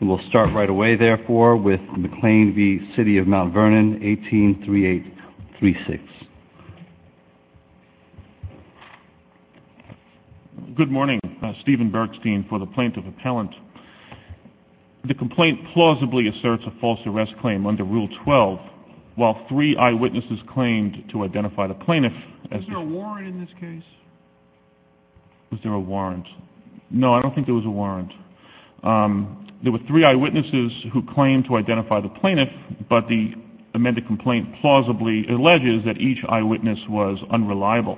We'll start right away, therefore, with McLean v. City of Mount Vernon, 183836. Good morning. Stephen Bergstein for the Plaintiff Appellant. The complaint plausibly asserts a false arrest claim under Rule 12, while three eyewitnesses claimed to identify the plaintiff as the— Was there a warrant in this case? Was there a warrant? No, I don't think there was a warrant. There were three eyewitnesses who claimed to identify the plaintiff, but the amended complaint plausibly alleges that each eyewitness was unreliable,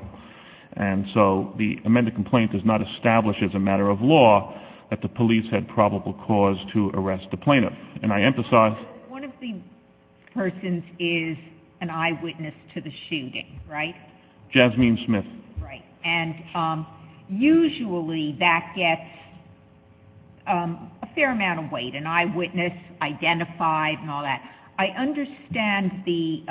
and so the amended complaint does not establish as a matter of law that the police had probable cause to arrest the plaintiff. And I emphasize— One of the persons is an eyewitness to the shooting, right? Jasmine Smith. Right. And usually that gets a fair amount of weight, an eyewitness identified and all that. I understand the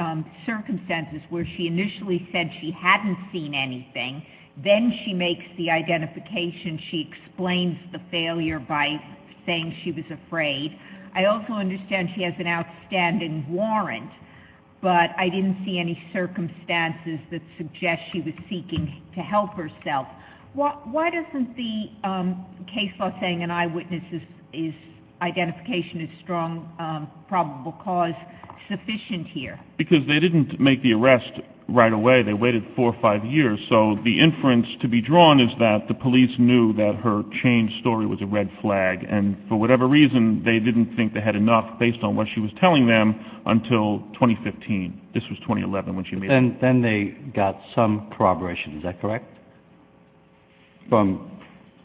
circumstances where she initially said she hadn't seen anything, then she makes the identification, she explains the failure by saying she was afraid. I also understand she has an outstanding warrant, but I didn't see any circumstances that suggest she was seeking to help herself. Why doesn't the case law saying an eyewitness' identification is strong, probable cause sufficient here? Because they didn't make the arrest right away. They waited four or five years, so the inference to be drawn is that the police knew that her chain story was a red flag, and for whatever reason, they didn't think they had enough based on what she was telling them until 2015. This was 2011 when she made the arrest. Then they got some corroboration, is that correct, from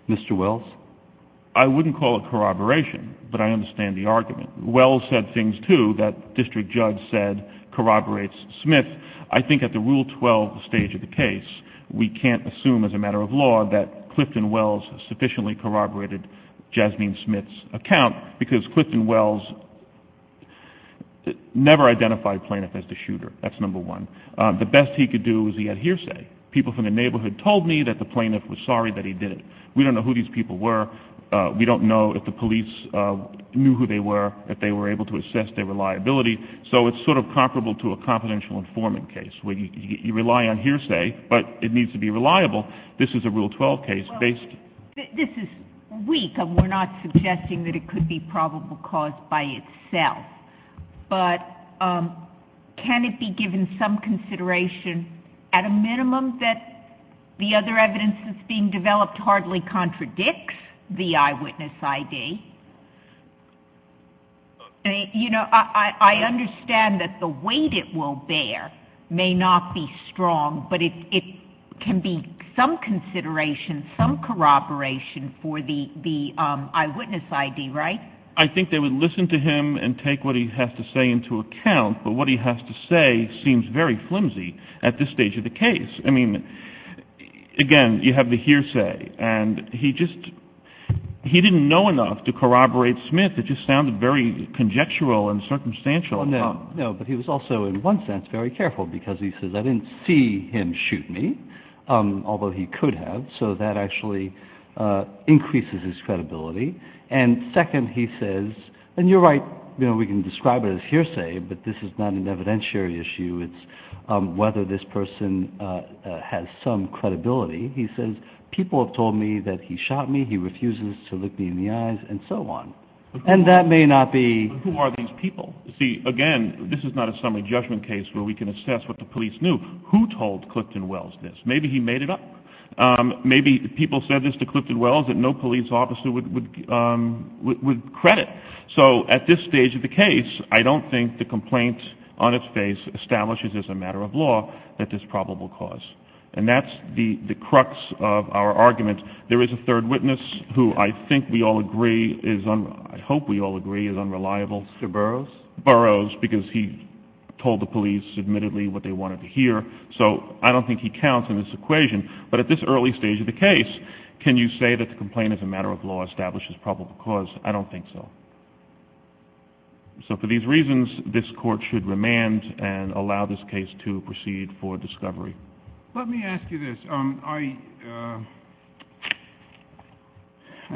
Mr. Wells? I wouldn't call it corroboration, but I understand the argument. Wells said things, too, that District Judge said corroborates Smith. I think at the Rule 12 stage of the case, we can't assume as a matter of law that Clifton Wells sufficiently corroborated Jasmine Smith's account, because Clifton Wells never identified Planoff as the shooter. That's number one. The best he could do was he had hearsay. People from the neighborhood told me that the plaintiff was sorry that he did it. We don't know who these people were. We don't know if the police knew who they were, if they were able to assess their reliability. So it's sort of comparable to a confidential informant case, where you rely on hearsay, but it needs to be reliable. This is a Rule 12 case. This is weak, and we're not suggesting that it could be probable cause by itself, but can it be given some consideration, at a minimum, that the other evidence that's being developed hardly contradicts the eyewitness ID? You know, I understand that the weight it will bear may not be strong, but it can be some consideration, some corroboration for the eyewitness ID, right? I think they would listen to him and take what he has to say into account, but what he has to say seems very flimsy at this stage of the case. I mean, again, you have the hearsay, and he just, he didn't know enough to corroborate Smith. It just sounded very conjectural and circumstantial. No, no, but he was also, in one sense, very careful, because he says, I didn't see him shoot me, although he could have, so that actually increases his credibility. And second, he says, and you're right, you know, we can describe it as hearsay, but this is not an evidentiary issue, it's whether this person has some credibility, he says, people have told me that he shot me, he refuses to look me in the eyes, and so on. And that may not be... But who are these people? See, again, this is not a summary judgment case where we can assess what the police knew. Who told Clifton Wells this? Maybe he made it up. Maybe people said this to Clifton Wells that no police officer would credit. So at this stage of the case, I don't think the complaint on its face establishes as a matter of law that this probable cause. And that's the crux of our argument. There is a third witness who I think we all agree is, I hope we all agree, is unreliable. Sir Burroughs? Burroughs, because he told the police, admittedly, what they wanted to hear. So I don't think he counts in this equation. But at this early stage of the case, can you say that the complaint as a matter of law establishes probable cause? I don't think so. So for these reasons, this court should remand and allow this case to proceed for discovery. Let me ask you this. I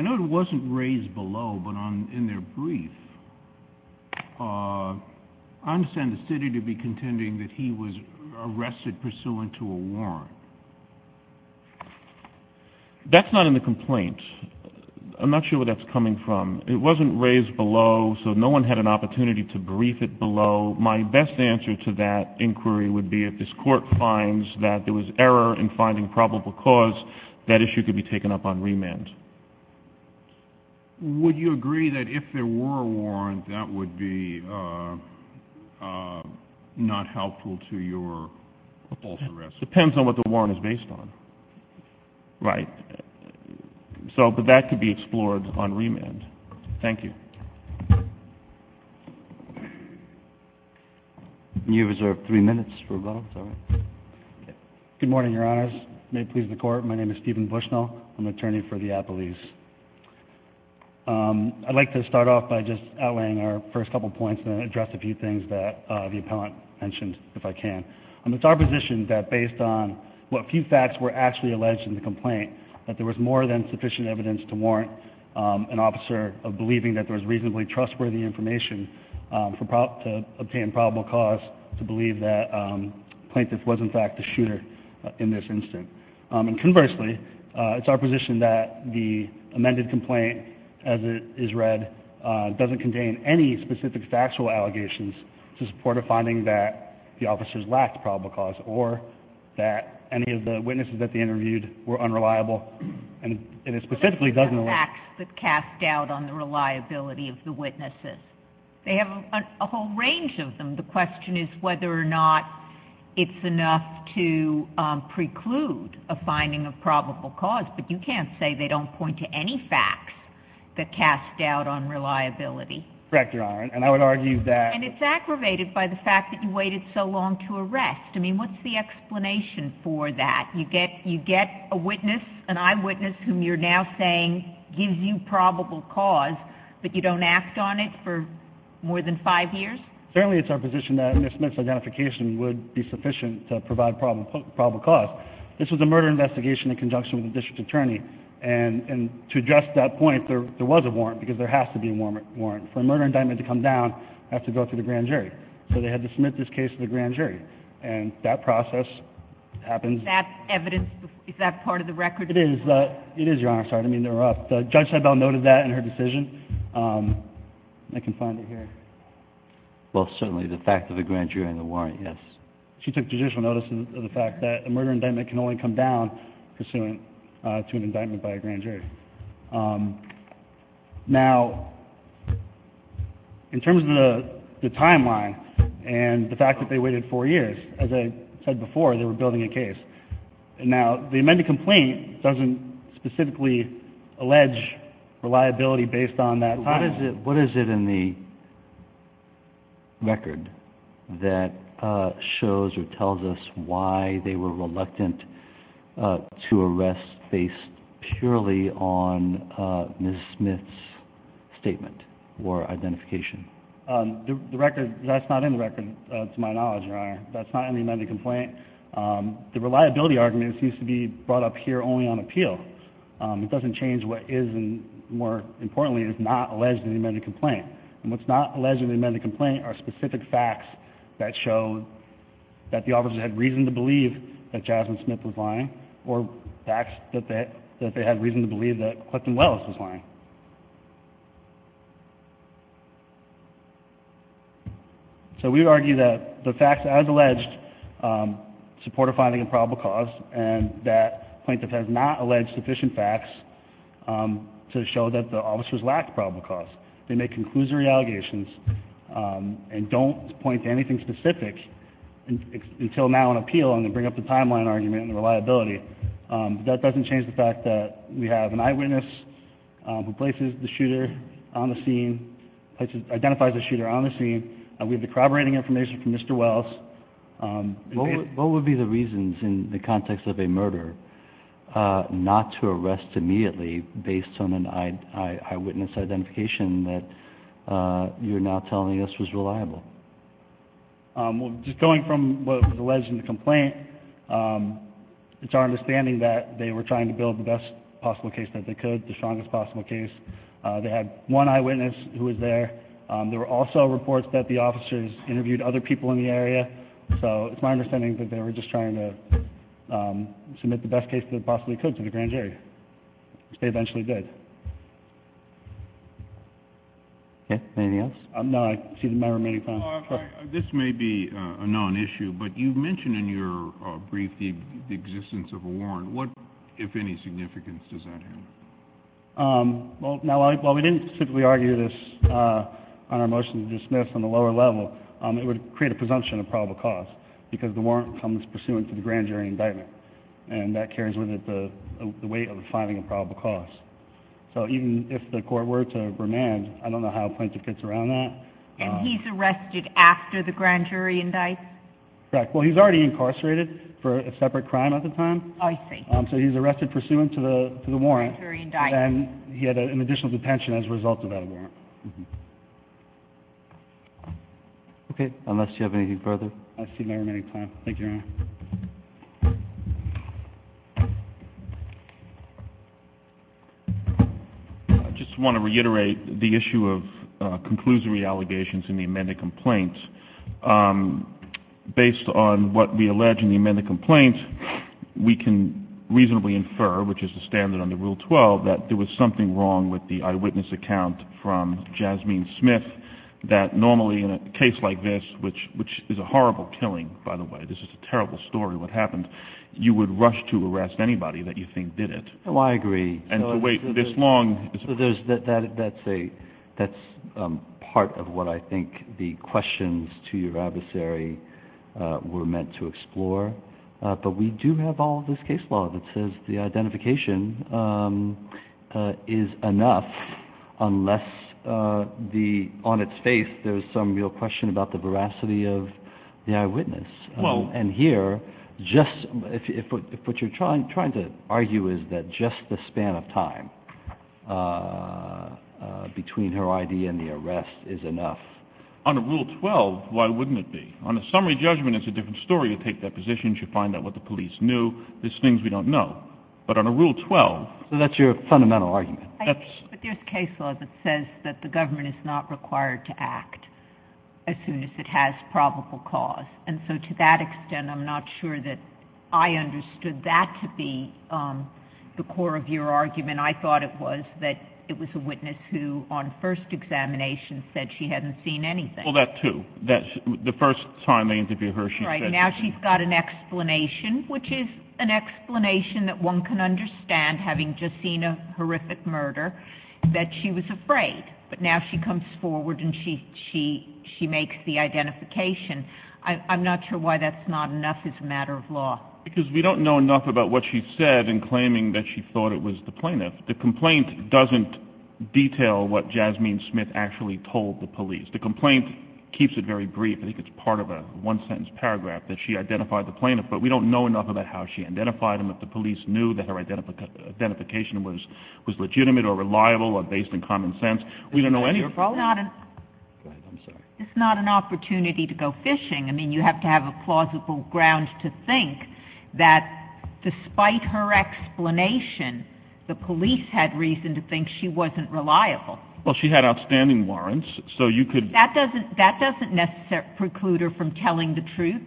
know it wasn't raised below, but in their brief, I understand the city to be contending that he was arrested pursuant to a warrant. That's not in the complaint. I'm not sure where that's coming from. It wasn't raised below, so no one had an opportunity to brief it below. My best answer to that inquiry would be if this court finds that there was error in finding probable cause, that issue could be taken up on remand. Would you agree that if there were a warrant, that would be not helpful to your false arrest? Depends on what the warrant is based on. Right. But that could be explored on remand. Thank you. You have reserved three minutes for a vote. Good morning, Your Honors. May it please the Court. My name is Stephen Bushnell. I'm an attorney for the appellees. I'd like to start off by just outlaying our first couple points and then address a few things that the appellant mentioned, if I can. It's our position that based on what few facts were actually alleged in the complaint, that there was more than sufficient evidence to warrant an officer believing that there was reasonably trustworthy information to obtain probable cause to believe that the plaintiff was, in fact, the shooter in this instance. And conversely, it's our position that the amended complaint, as it is read, doesn't contain any specific factual allegations to support a finding that the officers lacked probable cause or that any of the witnesses that they interviewed were unreliable. And it specifically doesn't... Lacks the cast doubt on the reliability of the witnesses. They have a whole range of them. The question is whether or not it's enough to preclude a finding of probable cause. But you can't say they don't point to any facts that cast doubt on reliability. Correct, Your Honor. And I would argue that... And it's aggravated by the fact that you waited so long to arrest. I mean, what's the explanation for that? You get a witness, an eyewitness, whom you're now saying gives you probable cause, but you don't act on it for more than five years? Certainly it's our position that Ms. Smith's identification would be sufficient to provide probable cause. This was a murder investigation in conjunction with a district attorney. And to address that point, there was a warrant, because there has to be a warrant. For a murder indictment to come down, it has to go through the grand jury. So they had to submit this case to the grand jury. And that process happens... That evidence, is that part of the record? It is, Your Honor. Sorry to interrupt. Judge Seibel noted that in her decision. I can find it here. Well, certainly the fact of the grand jury and the warrant, yes. She took judicial notice of the fact that a murder indictment can only come down pursuant to an indictment by a grand jury. Now, in terms of the timeline and the fact that they waited four years, as I said before, they were building a case. Now, the amended complaint doesn't specifically allege reliability based on that time. What is it in the record that shows or tells us why they were reluctant to arrest based purely on Ms. Smith's statement or identification? The record, that's not in the record, to my knowledge, Your Honor. That's not in the amended complaint. The reliability argument seems to be brought up here only on appeal. It doesn't change what is and, more importantly, is not alleged in the amended complaint. And what's not alleged in the amended complaint are specific facts that show that the officers had reason to believe that Jasmine Smith was lying or facts that they had reason to believe that Clifton Welles was lying. So we would argue that the facts as alleged support a finding of probable cause and that plaintiff has not alleged sufficient facts to show that the officers lacked probable cause. They make conclusory allegations and don't point to anything specific until now on appeal and then bring up the timeline argument and the reliability. But that doesn't change the fact that we have an eyewitness who places the shooter on the scene, identifies the shooter on the scene. We have the corroborating information from Mr. Welles. What would be the reasons in the context of a murder not to arrest immediately based on an eyewitness identification that you're now telling us was reliable? Just going from what was alleged in the complaint, it's our understanding that they were trying to build the best possible case that they could, the strongest possible case. They had one eyewitness who was there. There were also reports that the officers interviewed other people in the area. So it's my understanding that they were just trying to submit the best case they possibly could to the grand jury, which they eventually did. Anything else? No, I see my remaining time. This may be a non-issue, but you mentioned in your brief the existence of a warrant. What, if any, significance does that have? While we didn't specifically argue this on our motion to dismiss on the lower level, it would create a presumption of probable cause, because the warrant comes pursuant to the grand jury indictment, and that carries with it the weight of the finding of probable cause. So even if the court were to remand, I don't know how plaintiff gets around that. And he's arrested after the grand jury indictment? Correct. Well, he's already incarcerated for a separate crime at the time. I see. So he's arrested pursuant to the warrant. Grand jury indictment. And he had an additional detention as a result of that warrant. Okay, unless you have anything further. I see my remaining time. Thank you, Your Honor. I just want to reiterate the issue of conclusory allegations in the amended complaint. Based on what we allege in the amended complaint, we can reasonably infer, which is the standard under Rule 12, that there was something wrong with the eyewitness account from Jasmine Smith, that normally in a case like this, which is a horrible killing, by the way, this is a terrible story, what happened, you would rush to arrest anybody that you think did it. Oh, I agree. And to wait this long. That's part of what I think the questions to your adversary were meant to explore. But we do have all of this case law that says the identification is enough, unless on its face there's some real question about the veracity of the eyewitness. And here, what you're trying to argue is that just the span of time between her ID and the arrest is enough. On Rule 12, why wouldn't it be? On a summary judgment, it's a different story. You take that position, you find out what the police knew. There's things we don't know. But on Rule 12... So that's your fundamental argument. But there's case law that says the government is not required to act as soon as it has probable cause. And so to that extent, I'm not sure that I understood that to be the core of your argument. I thought it was that it was a witness who, on first examination, said she hadn't seen anything. Well, that, too. The first time they interviewed her, she said... Right. Now she's got an explanation, which is an explanation that one can understand, having just seen a horrific murder, that she was afraid. But now she comes forward and she makes the identification. I'm not sure why that's not enough as a matter of law. Because we don't know enough about what she said in claiming that she thought it was the plaintiff. The complaint doesn't detail what Jasmine Smith actually told the police. The complaint keeps it very brief. I think it's part of a one-sentence paragraph that she identified the plaintiff, but we don't know enough about how she identified him, if the police knew that her identification was legitimate or reliable or based in common sense. Isn't that your problem? It's not an... Go ahead. I'm sorry. It's not an opportunity to go fishing. I mean, you have to have a plausible ground to think that despite her explanation, the police had reason to think she wasn't reliable. Well, she had outstanding warrants, so you could... That doesn't necessarily preclude her from telling the truth.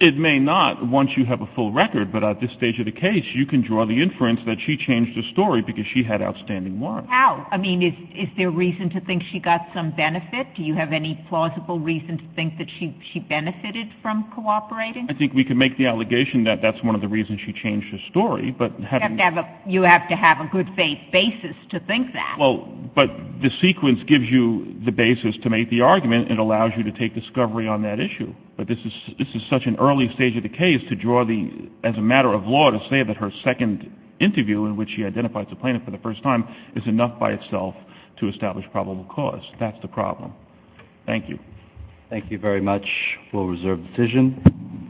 It may not, once you have a full record, but at this stage of the case, you can draw the inference that she changed her story because she had outstanding warrants. How? I mean, is there reason to think she got some benefit? Do you have any plausible reason to think that she benefited from cooperating? I think we can make the allegation that that's one of the reasons she changed her story, but... You have to have a good basis to think that. Well, but the sequence gives you the basis to make the argument and allows you to take discovery on that issue. But this is such an early stage of the case to draw the... as a matter of law, to say that her second interview in which she identifies the plaintiff for the first time is enough by itself to establish probable cause. That's the problem. Thank you. Thank you very much. We'll reserve the decision.